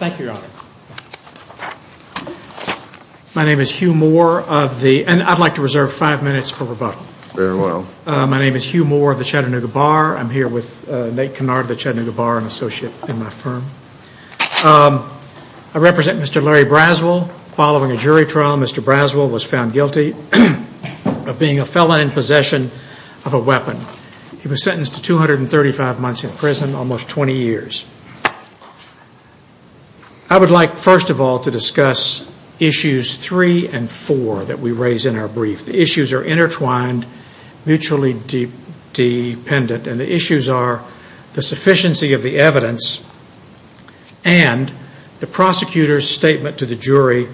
Thank you, Your Honor. My name is Hugh Moore of the Chattanooga Bar. I'm here with Nate Kennard of the Chattanooga Bar, an associate in my firm. I represent Mr. Larry Braswell. Following a jury trial, Mr. Braswell was found guilty of being a felon in possession of a weapon. He was sentenced to 235 months in prison, almost 20 years. I would like, first of all, to discuss issues three and four that we raise in our brief. The issues are intertwined, mutually dependent, and the issues are the sufficiency of the evidence and the prosecutor's statement to the jury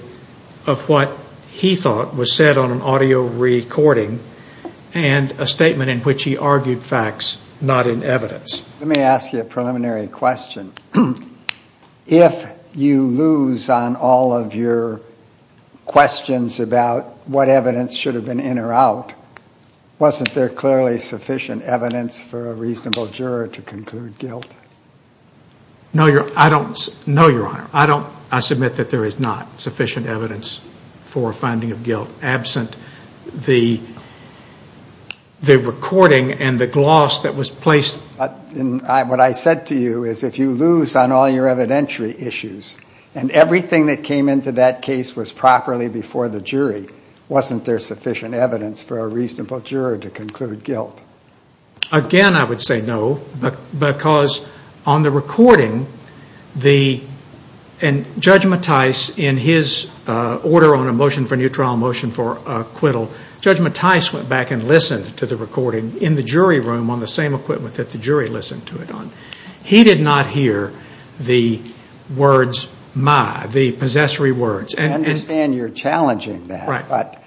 of what he thought was said on an audio recording and a statement in which he was not in evidence. Let me ask you a preliminary question. If you lose on all of your questions about what evidence should have been in or out, wasn't there clearly sufficient evidence for a reasonable juror to conclude guilt? No, Your Honor. I submit that there is not What I said to you is if you lose on all your evidentiary issues and everything that came into that case was properly before the jury, wasn't there sufficient evidence for a reasonable juror to conclude guilt? Again, I would say no, because on the recording, Judge Mattis, in his order on a motion for a new trial motion for acquittal, Judge Mattis went back and that the jury listened to it. He did not hear the words, my, the possessory words. I understand you're challenging that, but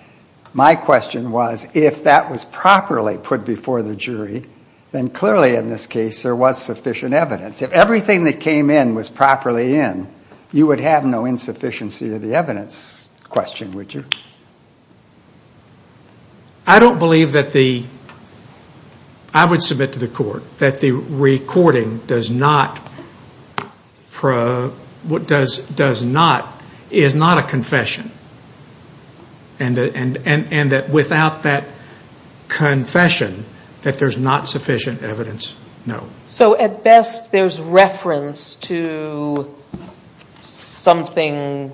my question was if that was properly put before the jury, then clearly in this case there was sufficient evidence. If everything that came in was properly in, you would have no insufficiency of the evidence question, would you? I don't believe that the, I would submit to the court that the recording does not, does not, is not a confession and that without that confession that there's not sufficient evidence, no. So at best there's reference to something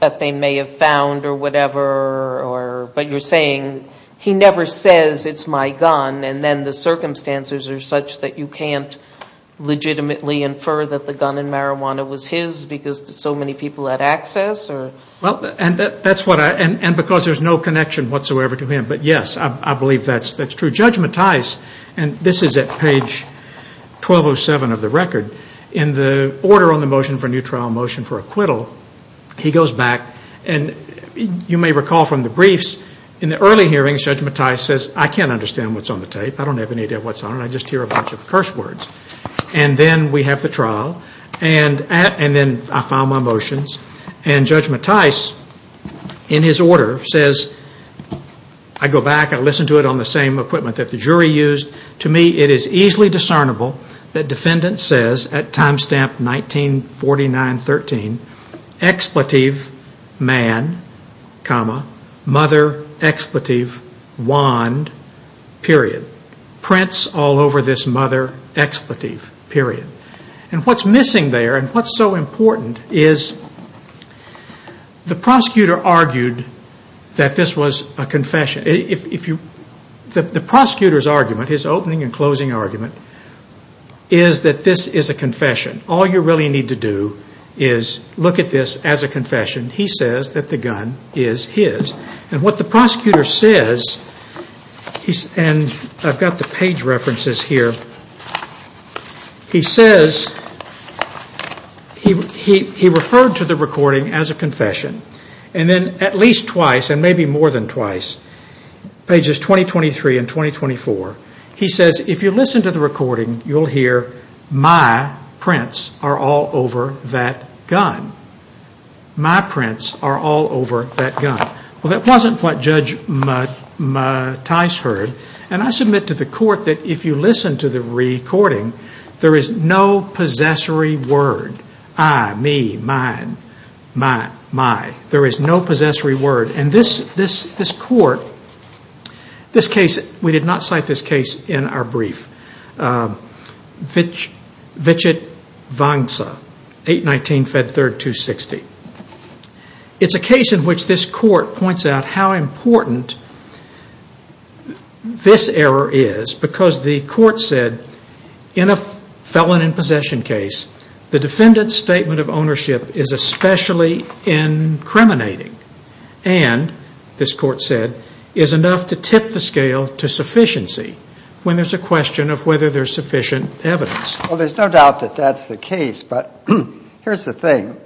that they may have found or whatever, but you're saying he never says it's my gun and then the circumstances are such that you can't legitimately infer that the gun and marijuana was his because so many people had access or? Well, and that's what I, and because there's no connection whatsoever to him, but yes, I believe that's true. Judge Mattis, and this is at page 1207 of the record, in the order on the motion for a new trial motion for acquittal, he goes back and you may recall from the briefs, in the early hearings, Judge Mattis says, I can't understand what's on the tape. I don't have any idea what's on it. I just hear a bunch of curse words. And then we have the trial and at, and then I file my motions and Judge Mattis in his order says, I go back, I listen to it on the same equipment that the jury used. To me, it is easily discernible that defendant says at time stamp 1949-13, expletive, man, comma, mother, expletive, wand, period. Prints all over this mother, expletive, period. And what's missing there and what's so important is the prosecutor argued that this was a confession. The prosecutor's argument, his opening and closing argument, is that this is a confession. All you really need to do is look at this as a confession. He says that the gun is his. And what the prosecutor says, and I've got the page references here, he says, he referred to the recording as a confession. And then at least twice, and maybe more than twice, pages 2023 and 2024, he says, if you listen to the recording, you'll hear, my prints are all over that gun. My prints are all over that gun. Well, that wasn't what Judge Mattis heard. And I submit to the court that if you listen to the recording, there is no possessory word. I, me, mine, my, my. There is no possessory word. And this court, this case, we did not cite this case in our brief. Vichit Vangsa, 819, Fed 3rd, 260. It's a case in which this court points out how important this error is because the court said, in a felon in possession case, the defendant's statement of ownership is especially incriminating and, this court said, is enough to tip the scale to sufficiency when there's a question of whether there's sufficient evidence. Well, there's no doubt that that's the case, but here's the thing.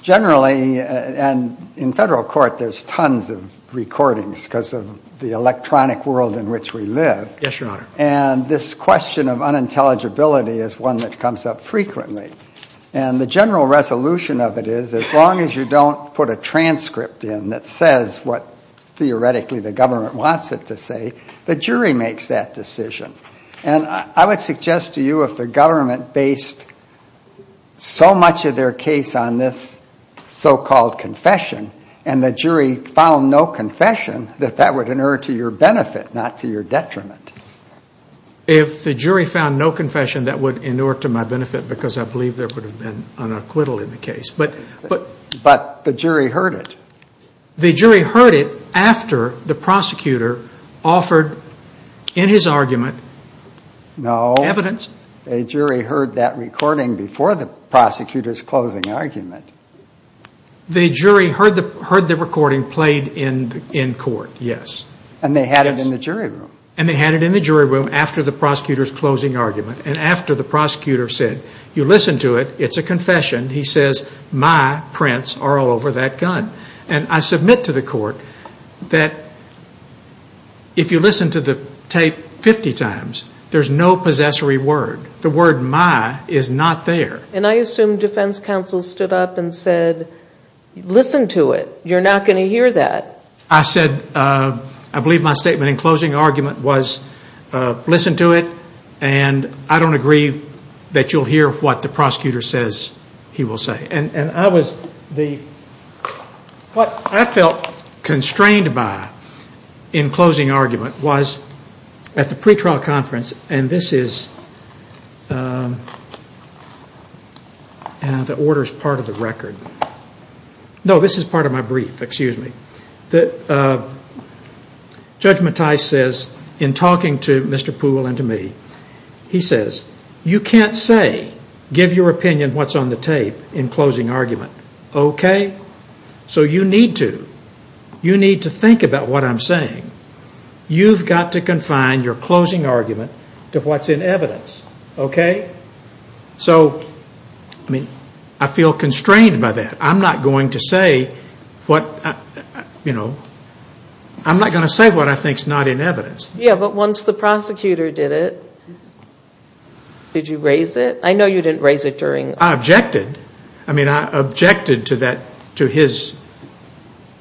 Generally, and in federal court, there's tons of recordings because of the electronic world in which we live. Yes, Your Honor. And this question of unintelligibility is one that comes up frequently. And the general resolution of it is, as long as you don't put a transcript in that says what, theoretically, the government wants it to say, the jury makes that decision. And I would suggest to you if the government based so much of their case on this so-called confession, and the jury found no confession, that that would inure to your benefit, not to your detriment. If the jury found no confession, that would inure to my benefit because I believe there would have been an acquittal in the case. But the jury heard it. The jury heard it after the prosecutor offered in his argument evidence. No. The jury heard that recording before the prosecutor's closing argument. The jury heard the recording played in court, yes. And they had it in the jury room. And they had it in the jury room after the prosecutor's closing argument and after the prosecutor said, you listen to it, it's a confession. He says, my prints are all over that gun. And I submit to the court that if you listen to the tape 50 times, there's no possessory word. The word my is not there. And I assume defense counsel stood up and said, listen to it. You're not going to hear that. I said, I believe my statement in closing argument was, listen to it, and I don't agree that you'll hear what the prosecutor says he will say. And I was the, what I felt constrained by in closing argument was at the pretrial conference, and this is, the order is part of the record. No, this is part of my brief, excuse me. That Judge Mattis says in talking to Mr. Poole and to me, he says, you can't say, give your opinion what's on the tape in closing argument, okay? So you need to, you need to think about what I'm saying. You've got to confine your closing argument to what's in evidence, okay? So, I mean, I feel constrained by that. I'm not going to say what, you know, I'm not going to say what I think is not in evidence. Yeah, but once the prosecutor did it, did you raise it? I know you didn't raise it during I objected. I mean, I objected to that, to his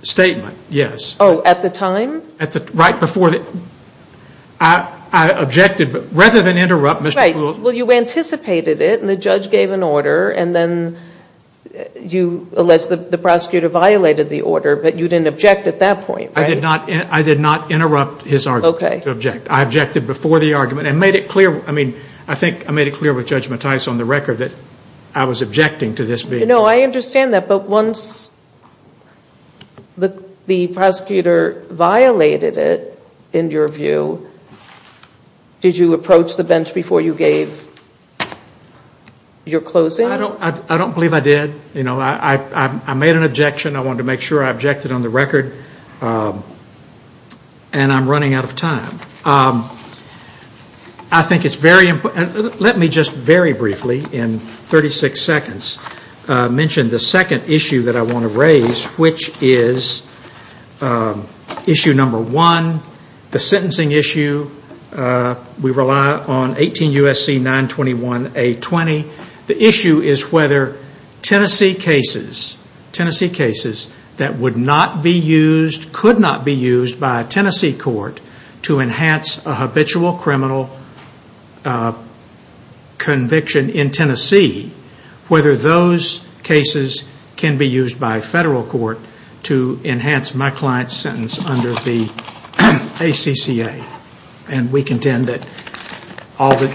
statement. Yes. Oh, at the time? At the, right before the, I objected, but rather than interrupt Mr. Poole. Right, well you anticipated it and the judge gave an order and then you alleged the prosecutor violated the order, but you didn't object at that point, right? I did not interrupt his argument to object. I objected before the argument and made it clear, I mean, I think I made it clear with Judge Mattis on the record that I was objecting to this being. You know, I understand that, but once the prosecutor violated it, in your view, did you approach the bench before you gave your closing? I don't believe I did. You know, I made an objection. I wanted to make sure I objected on the record and I'm running out of time. I think it's very important, let me just very briefly mention the second issue that I want to raise, which is issue number one, the sentencing issue. We rely on 18 U.S.C. 921A20. The issue is whether Tennessee cases, Tennessee cases that would not be used, could not be used by a Tennessee court to enhance a habitual criminal conviction in Tennessee, whether those cases can be used by a federal court to enhance my client's sentence under the ACCA. And we contend that all the,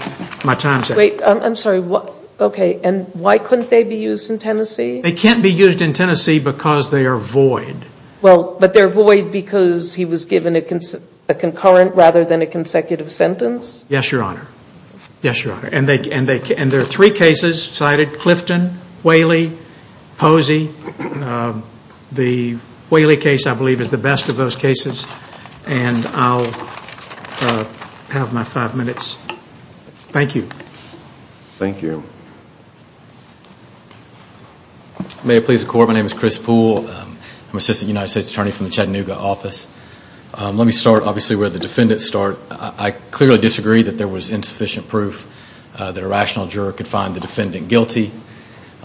my time is up. Wait, I'm sorry, okay, and why couldn't they be used in Tennessee? They can't be used in Tennessee because they are void. Well, but they're void because he was given a concurrent rather than a consecutive sentence? Yes, Your Honor. Yes, Your Honor. And there are three cases cited, Clifton, Whaley, Posey. The Whaley case, I believe, is the best of those cases. And I'll have my five minutes. Thank you. Thank you. May it please the Court, my name is Chris Poole. I'm an Assistant United States Attorney from the Chattanooga office. Let me start, obviously, where the defendants start. I clearly disagree that there was insufficient proof that a rational juror could find the defendant guilty.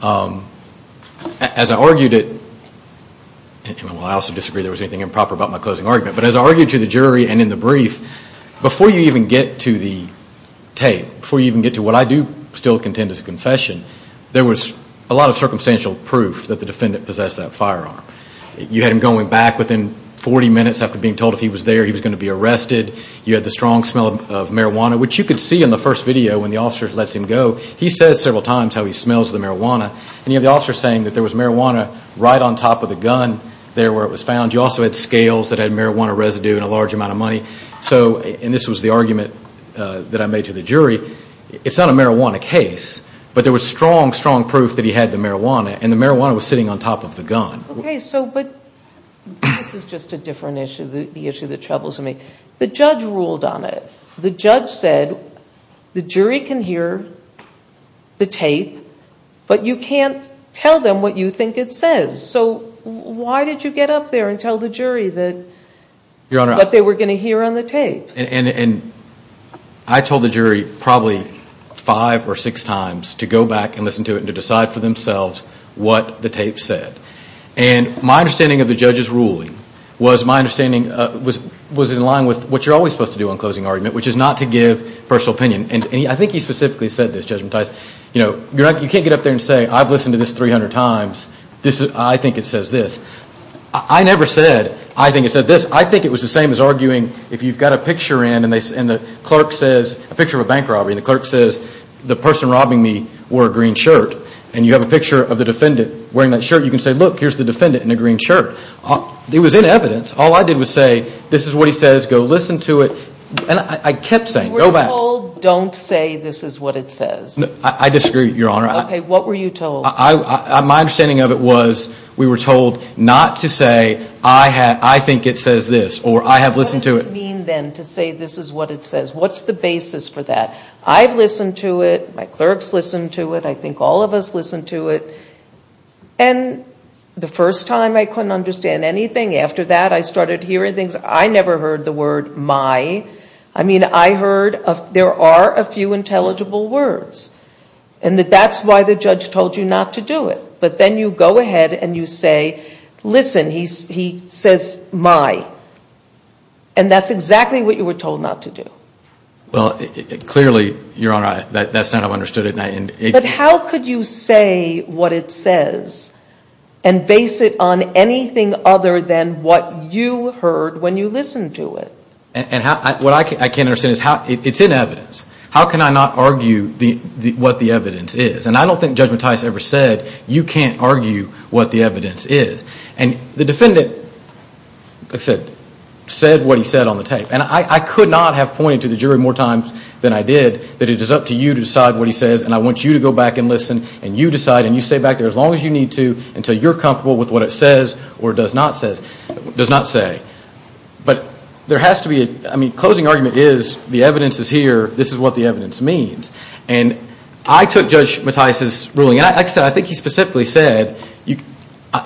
As I argued it, and I also disagree that there was anything improper about my closing argument, but as I argued to the jury and in the brief, before you even get to the confession, there was a lot of circumstantial proof that the defendant possessed that firearm. You had him going back within 40 minutes after being told if he was there he was going to be arrested. You had the strong smell of marijuana, which you could see in the first video when the officer lets him go. He says several times how he smells the marijuana. And you have the officer saying that there was marijuana right on top of the gun there where it was found. You also had scales that had marijuana residue and a large amount of money. So, and this was the argument that I made to the jury. It's not a marijuana case, but there was strong, strong proof that he had the marijuana and the marijuana was sitting on top of the gun. Okay, so, but this is just a different issue, the issue that troubles me. The judge ruled on it. The judge said the jury can hear the tape, but you can't tell them what you think it says. So, why did you get up there and tell the jury that, that they were going to hear on the tape? And I told the jury probably five or six times to go back and listen to it and to decide for themselves what the tape said. And my understanding of the judge's ruling was my understanding was in line with what you're always supposed to do on closing argument, which is not to give personal opinion. And I think he specifically said this, Judge Mattis, you know, you can't get up there and say, I've listened to this 300 times, I think it says this. I never said, I think it said this. I think it was the same as arguing, if you've got a picture in and the clerk says, a picture of a bank robbery, and the clerk says, the person robbing me wore a green shirt, and you have a picture of the defendant wearing that shirt, you can say, look, here's the defendant in a green shirt. It was in evidence. All I did was say, this is what he says, go listen to it. And I kept saying, go back. You were told, don't say this is what it says. I disagree, Your Honor. Okay, what were you told? My understanding of it was, we were told not to say, I think it says this, or, I have listened to it. What does it mean, then, to say this is what it says? What's the basis for that? I've listened to it. My clerks listened to it. I think all of us listened to it. And the first time, I couldn't understand anything. After that, I started hearing things. I never heard the word, my. I mean, I heard, there are a few intelligible words. And that's why the judge told you not to do it. But then you go ahead and you say, listen, he says, my. And that's exactly what you were told not to do. Well, clearly, Your Honor, that's not how I understood it. But how could you say what it says and base it on anything other than what you heard when you listened to it? And what I can't understand is, it's in evidence. How can I not argue what the evidence is? And I don't think Judge Mattias ever said, you can't argue what the evidence is. And the defendant, like I said, said what he said on the tape. And I could not have pointed to the jury more times than I did that it is up to you to decide what he says and I want you to go back and listen and you decide and you stay back there as long as you need to until you're comfortable with what it says or does not say. But there has to be, I mean, the closing argument is, the evidence is here, this is what the evidence means. And I took Judge Mattias' ruling, and like I said, I think he specifically said,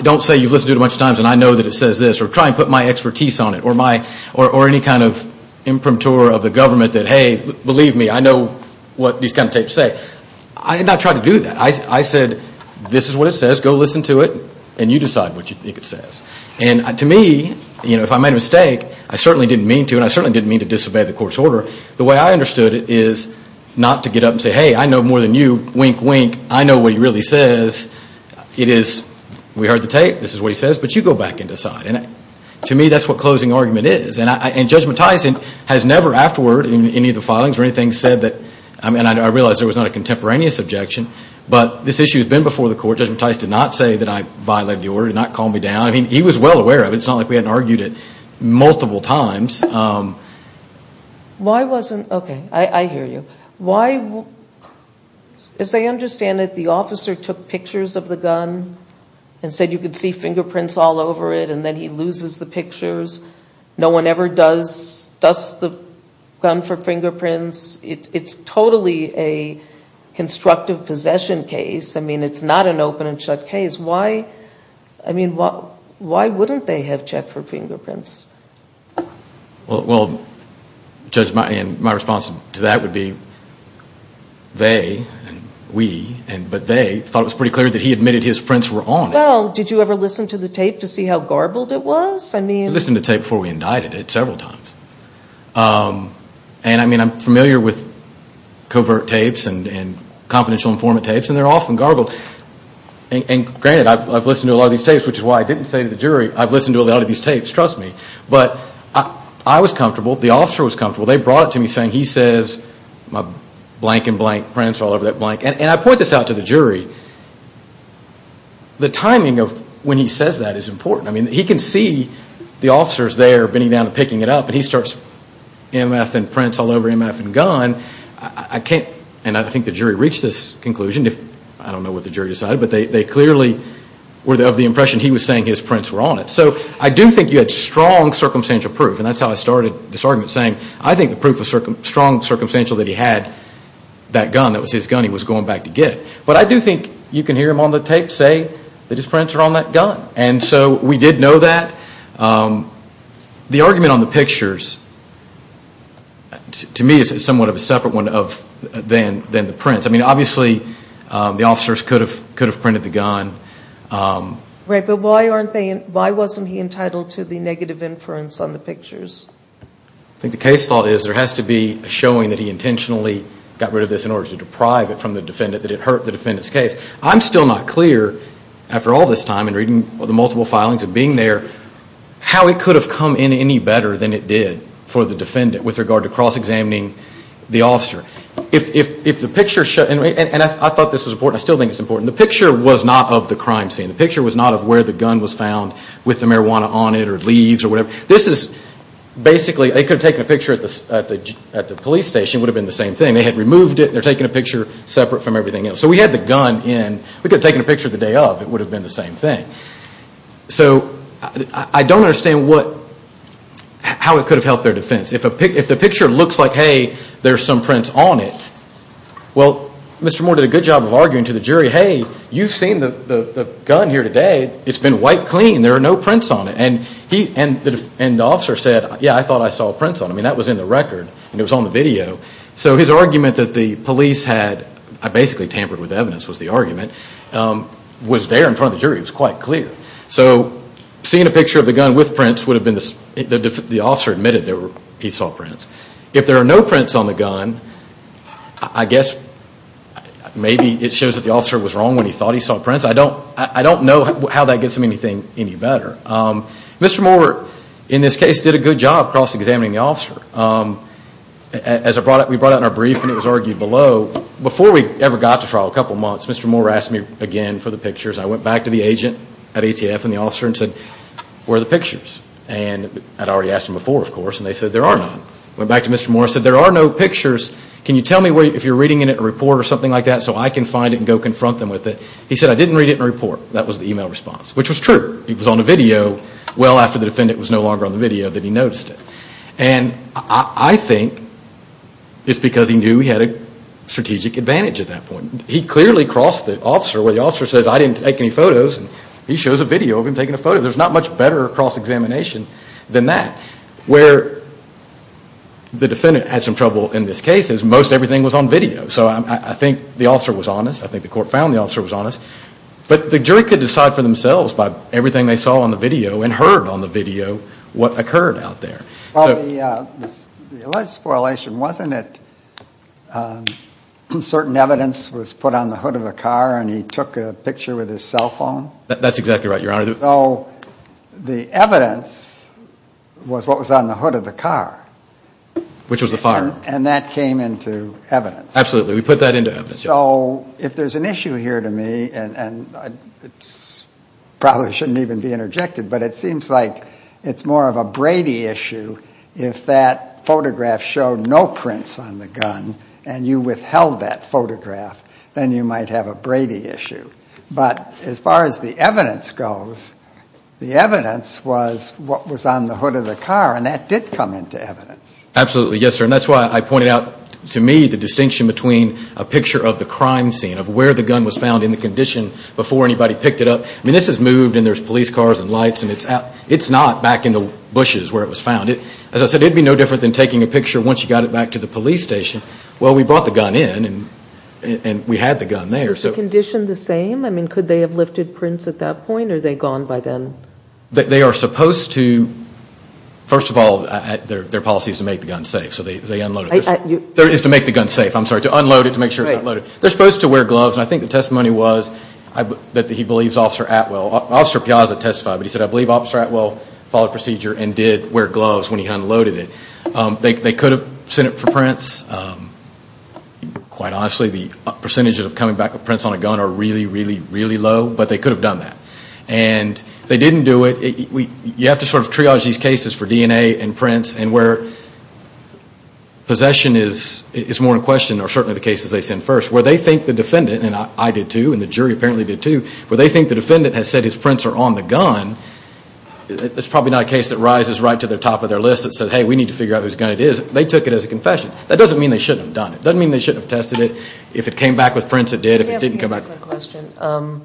don't say you've listened to it a bunch of times and I know that it says this or try and put my expertise on it or my, or any kind of imprimatur of the government that, hey, believe me, I know what these kind of tapes say. I did not try to do that. I said, this is what it says, go listen to it and you decide what you think it says. And to me, you know, if I made a mistake, I certainly didn't mean to and I certainly didn't mean to disobey the court's order. The way I understood it is not to get up and say, hey, I know more than you, wink, wink, I know what he really says. It is, we heard the tape, this is what he says, but you go back and decide. And to me, that's what closing argument is. And Judge Mattias has never afterward in any of the filings or anything said that, and I realize there was not a contemporaneous objection, but this issue has been before the court. Judge Mattias did not say that I violated the order, did not calm me down. I mean, he was well aware of it. It's not like we hadn't argued it multiple times. Why wasn't, okay, I hear you. Why, as I understand it, the officer took pictures of the gun and said you could see fingerprints all over it and then he loses the pictures. No one ever does, dusts the gun for fingerprints. It's totally a constructive possession case. I mean, why wouldn't they have checked for fingerprints? Well, Judge, my response to that would be they, we, but they thought it was pretty clear that he admitted his prints were on it. Well, did you ever listen to the tape to see how garbled it was? We listened to the tape before we indicted it several times. And I mean, I'm familiar with covert tapes and confidential informant tapes and they're often garbled. And granted, I've listened to a lot of these tapes, which is why I didn't say to the jury, I've listened to a lot of these tapes, trust me. But I was comfortable, the officer was comfortable. They brought it to me saying he says my blank and blank prints are all over that blank. And I point this out to the jury. The timing of when he says that is important. I mean, he can see the officers there bending down and picking it up and he starts MF and prints all over MF and gun. I can't, and I think the jury reached this conclusion. I don't clearly, of the impression he was saying his prints were on it. So I do think you had strong circumstantial proof. And that's how I started this argument saying I think the proof was strong circumstantial that he had that gun, that was his gun he was going back to get. But I do think you can hear him on the tape say that his prints are on that gun. And so we did know that. The argument on the pictures to me is somewhat of a separate one than the prints. I mean, obviously, the officers could have printed the gun. Right, but why wasn't he entitled to the negative inference on the pictures? I think the case law is there has to be a showing that he intentionally got rid of this in order to deprive it from the defendant, that it hurt the defendant's case. I'm still not clear after all this time and reading the multiple filings and being there, how it could have come in any better than it did for the defendant with regard to cross-examining the officer. If the picture, and I thought this was important, I still think it's important, the picture was not of the crime scene. The picture was not of where the gun was found with the marijuana on it or leaves or whatever. This is basically, they could have taken a picture at the police station, it would have been the same thing. They had removed it, they're taking a picture separate from everything else. So we had the gun in, we could have taken a picture the day of, it would have been the same thing. So I don't understand how it could have helped their defense. If the picture looks like, hey, there's some prints on it, well, Mr. Moore did a good job of arguing to the jury, hey, you've seen the gun here today, it's been wiped clean, there are no prints on it. And the officer said, yeah, I thought I saw prints on it. I mean, that was in the record and it was on the video. So his argument that the police had, I basically tampered with evidence was the argument, was there in front of the jury, it was quite clear. So seeing a picture of prints would have been, the officer admitted that he saw prints. If there are no prints on the gun, I guess maybe it shows that the officer was wrong when he thought he saw prints. I don't know how that gets him anything any better. Mr. Moore, in this case, did a good job cross-examining the officer. As we brought out in our brief and it was argued below, before we ever got to trial, a couple months, Mr. Moore asked me again for the pictures. I went back to the agent at ATF and the officer and said, where are the pictures? And I had already asked them before, of course, and they said there are none. I went back to Mr. Moore and said, there are no pictures. Can you tell me if you're reading in it a report or something like that so I can find it and go confront them with it? He said, I didn't read it in a report. That was the email response, which was true. It was on a video well after the defendant was no longer on the video that he noticed it. And I think it's because he knew he had a strategic advantage at that point. He clearly crossed the officer where the officer says, I didn't take any photos, and he shows a video of him taking a photo. There's not much better cross-examination than that. Where the defendant had some trouble in this case is most everything was on video. So I think the officer was honest. I think the court found the officer was honest. But the jury could decide for themselves by everything they saw on the video and heard on the video what occurred out there. Well, the alleged spoilers wasn't it certain evidence was put on the hood of a car and he took a picture with his cell phone? That's exactly right, Your Honor. The evidence was what was on the hood of the car. Which was the fire. And that came into evidence. Absolutely. We put that into evidence. So if there's an issue here to me, and probably shouldn't even be interjected, but it seems like it's more of a Brady issue if that photograph showed no prints on the gun and you withheld that photograph, then you might have a Brady issue. But as far as the evidence goes, the evidence was what was on the hood of the car and that did come into evidence. Absolutely. Yes, sir. And that's why I pointed out to me the distinction between a picture of the crime scene, of where the gun was found in the condition before anybody picked it up. I mean, this has moved and there's police cars and lights and it's not back in the bushes where it was found. As I said, it'd be no picture. Once you got it back to the police station, well, we brought the gun in and we had the gun there. Is the condition the same? I mean, could they have lifted prints at that point or are they gone by then? They are supposed to, first of all, their policy is to make the gun safe, so they unloaded it. Is to make the gun safe, I'm sorry. To unload it to make sure it's unloaded. They're supposed to wear gloves and I think the testimony was that he believes Officer Atwell, Officer Piazza testified, but he said, I believe Officer Atwell followed procedure and did wear gloves when he unloaded it. They could have sent it for prints. Quite honestly, the percentages of coming back with prints on a gun are really, really, really low, but they could have done that. And they didn't do it. You have to sort of triage these cases for DNA and prints and where possession is more in question are certainly the cases they send first. Where they think the defendant, and I did too, and the jury apparently did too, where they think the defendant has said his prints are on the gun, it's probably not a case that rises right to the top of their list that says, hey, we need to figure out whose gun it is. They took it as a confession. That doesn't mean they shouldn't have done it. It doesn't mean they shouldn't have tested it. If it came back with prints, it did. If it didn't come back with prints, it didn't.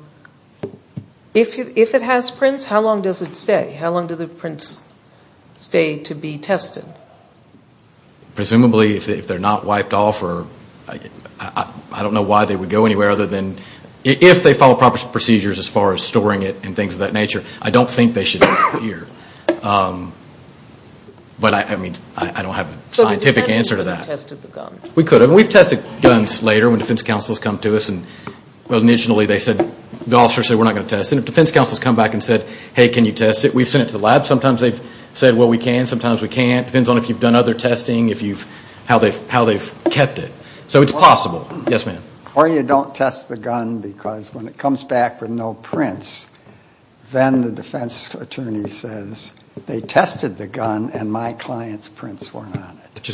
If it has prints, how long does it stay? How long do the prints stay to be tested? Presumably if they're not wiped off or I don't know why they would go anywhere other than if they follow proper procedures as far as storing it and things of that nature, I don't think they should be here. But I don't have a scientific answer to that. We could have. We've tested guns later when defense counsels come to us and initially they said, the officer said, we're not going to test it. If defense counsels come back and said, hey, can you test it, we've sent it to the lab. Sometimes they've said, well, we can. Sometimes we can't. It depends on if you've done other testing, how they've kept it. So it's possible. Yes, ma'am. Or you don't test the gun because when it comes back with no prints, then the defense attorney says, they tested the gun and my client's prints weren't on it.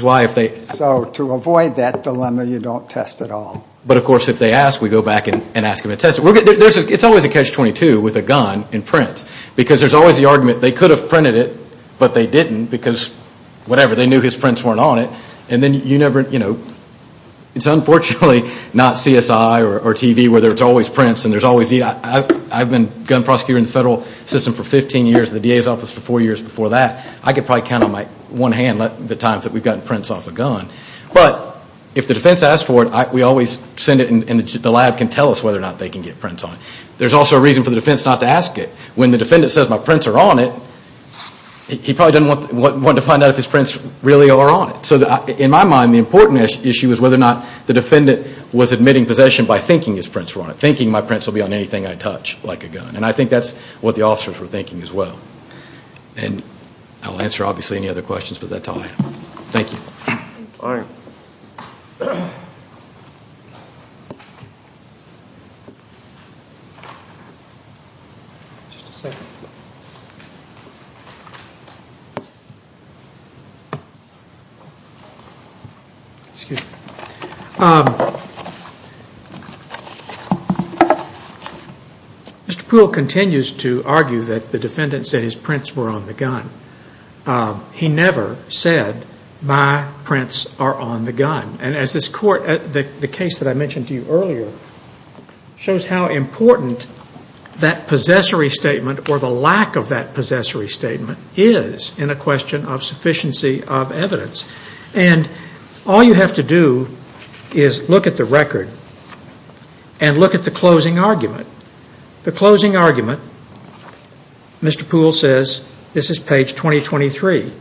So to avoid that dilemma, you don't test at all. But of course if they ask, we go back and ask them to test it. It's always a catch-22 with a gun in prints because there's always the argument they could have printed it, but they didn't because whatever, they knew his prints weren't on it. And then you never, you know, it's unfortunately not CSI or TV where there's always prints and there's always the, I've been gun prosecutor in the federal system for 15 years, the DA's office for four years before that. I could probably count on my one hand the times that we've gotten prints off a gun. But if the defense asks for it, we always send it and the lab can tell us whether or not they can get prints on it. There's also a reason for the defense not to ask it. When the defendant says my prints are on it, he probably doesn't want to find out if his prints really are on it. So in my mind the important issue is whether or not the defendant was admitting possession by thinking his prints were on it. Thinking my prints will be on anything I touch like a gun. And I think that's what the officers were thinking as well. And I'll answer obviously any other questions, but that's all I have. Thank you. Mr. Poole continues to argue that the defendant said his prints were on the gun. He never said my prints are on the gun. And as this court, the case that I mentioned to you earlier shows how important that possessory statement or the lack of that possessory statement is in a question of sufficiency of evidence. And all you have to do is look at the record and look at the closing argument. The closing argument, Mr. Poole says, this is page 2023,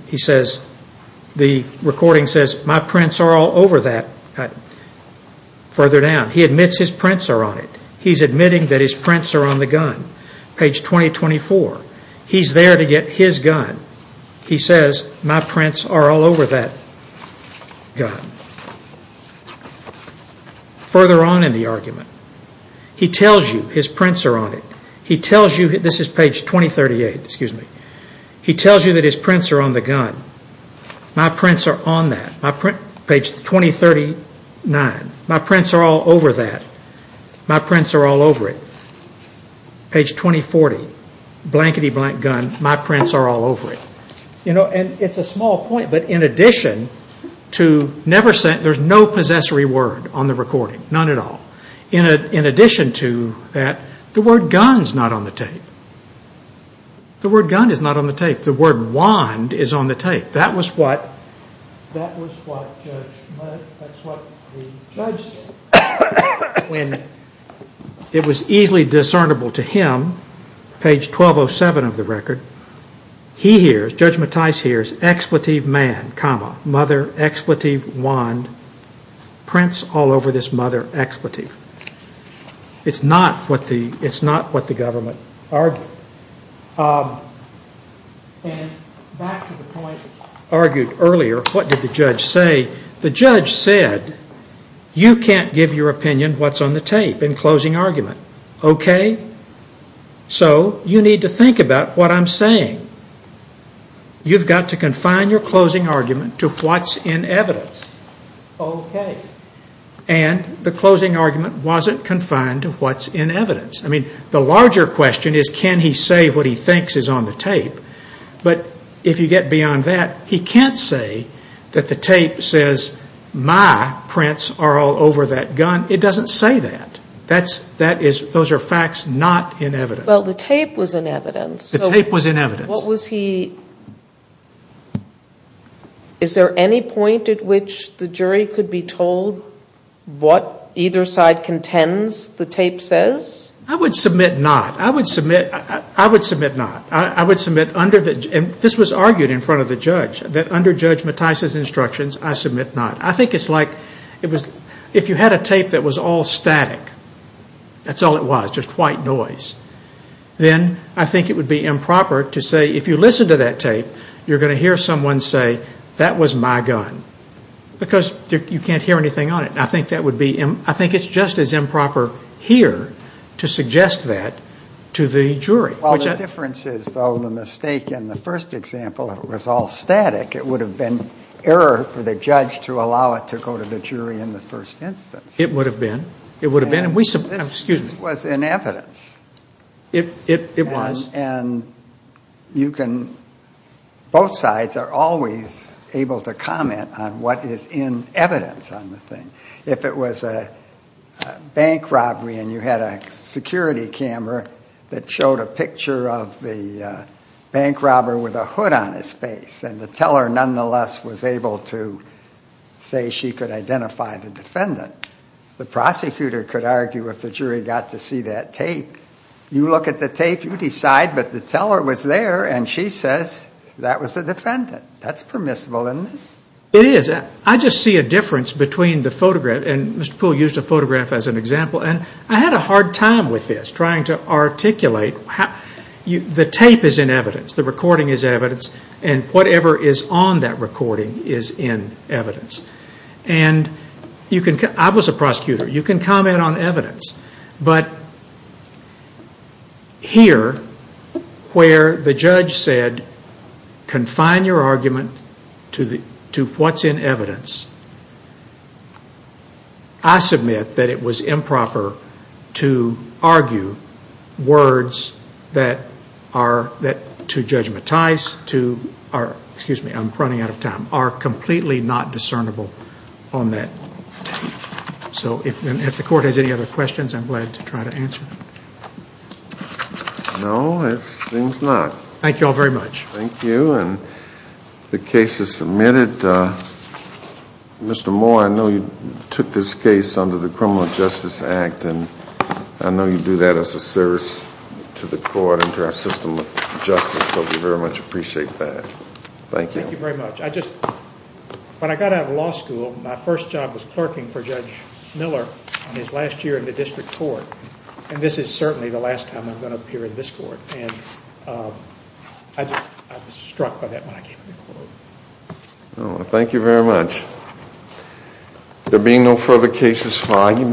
the recording says my prints are all over that further down. He admits his prints are on it. He's admitting that his prints are on the gun. Page 2024, he's there to get his gun. He says my prints are all over that gun. Further on in the argument, he tells you his prints are on it. He tells you, this is page 2038, excuse me. He tells you that his prints are on the gun. My prints are on that. Page 2039, my prints are all over that. He says my prints are all over it. Page 2040, blankety blank gun, my prints are all over it. You know, and it's a small point, but in addition to never saying, there's no possessory word on the recording, none at all. In addition to that, the word gun's not on the tape. The word gun is not on the tape. The word wand is on the tape. That was what the judge said when it was easily discernible to him, page 1207 of the record, he hears, Judge Mattis hears, expletive man, comma, mother, expletive, wand, prints all over this mother, expletive. It's not what the government argued. And back to the point argued earlier, what did the judge say? He said, in your opinion, what's on the tape, in closing argument. Okay. So you need to think about what I'm saying. You've got to confine your closing argument to what's in evidence. Okay. And the closing argument wasn't confined to what's in evidence. I mean, the larger question is, can he say what he thinks is on the tape? But if you get beyond that, he can't say that the tape says, my prints are all over that gun. It doesn't say that. That's, that is, those are facts not in evidence. Well, the tape was in evidence. The tape was in evidence. What was he, is there any point at which the jury could be told what either side contends the tape says? I would submit not. I would submit, I would judge, that under Judge Matias' instructions, I submit not. I think it's like, if you had a tape that was all static, that's all it was, just white noise, then I think it would be improper to say, if you listen to that tape, you're going to hear someone say, that was my gun. Because you can't hear anything on it. I think that would be, I think it's just as improper here to suggest that to the jury. Well, the difference is, though, the mistake in the first example, if it was all static, it would have been error for the judge to allow it to go to the jury in the first instance. It would have been. It would have been. And we, excuse me. This was in evidence. It was. And you can, both sides are always able to comment on what is in evidence on the thing. If it was a bank robbery and you had a security camera that showed a picture of the bank robber with a hood on his face and the teller, nonetheless, was able to say she could identify the defendant, the prosecutor could argue if the jury got to see that tape. You look at the tape, you decide, but the teller was there and she says, that was the defendant. That's permissible, isn't it? It is. I just see a difference between the photograph, and Mr. Poole used a photograph as an example. I had a hard time with this, trying to articulate. The tape is in evidence. The recording is evidence. Whatever is on that recording is in evidence. I was a prosecutor. You can comment on evidence. But here, where the judge said, confine your argument to what's in evidence, I submit that it was improper to argue words that are, that to judgmentize, to, excuse me, I'm running out of time, are completely not discernible on that tape. So if the court has any other questions, I'm glad to try to answer them. No, it seems not. Thank you all very much. Thank you, and the case is submitted. Mr. Moore, I know you took this case under the Criminal Justice Act, and I know you do that as a service to the court and to our system of justice, so we very much appreciate that. Thank you. Thank you very much. I just, when I got out of law school, my first job was clerking for Judge Miller in his last year in the district court, and this is certainly the last time I'm going to appear in this court, and I was struck by that when I came to the court. Thank you very much. There being no further cases for you, Mr. Moore, I'm going to ask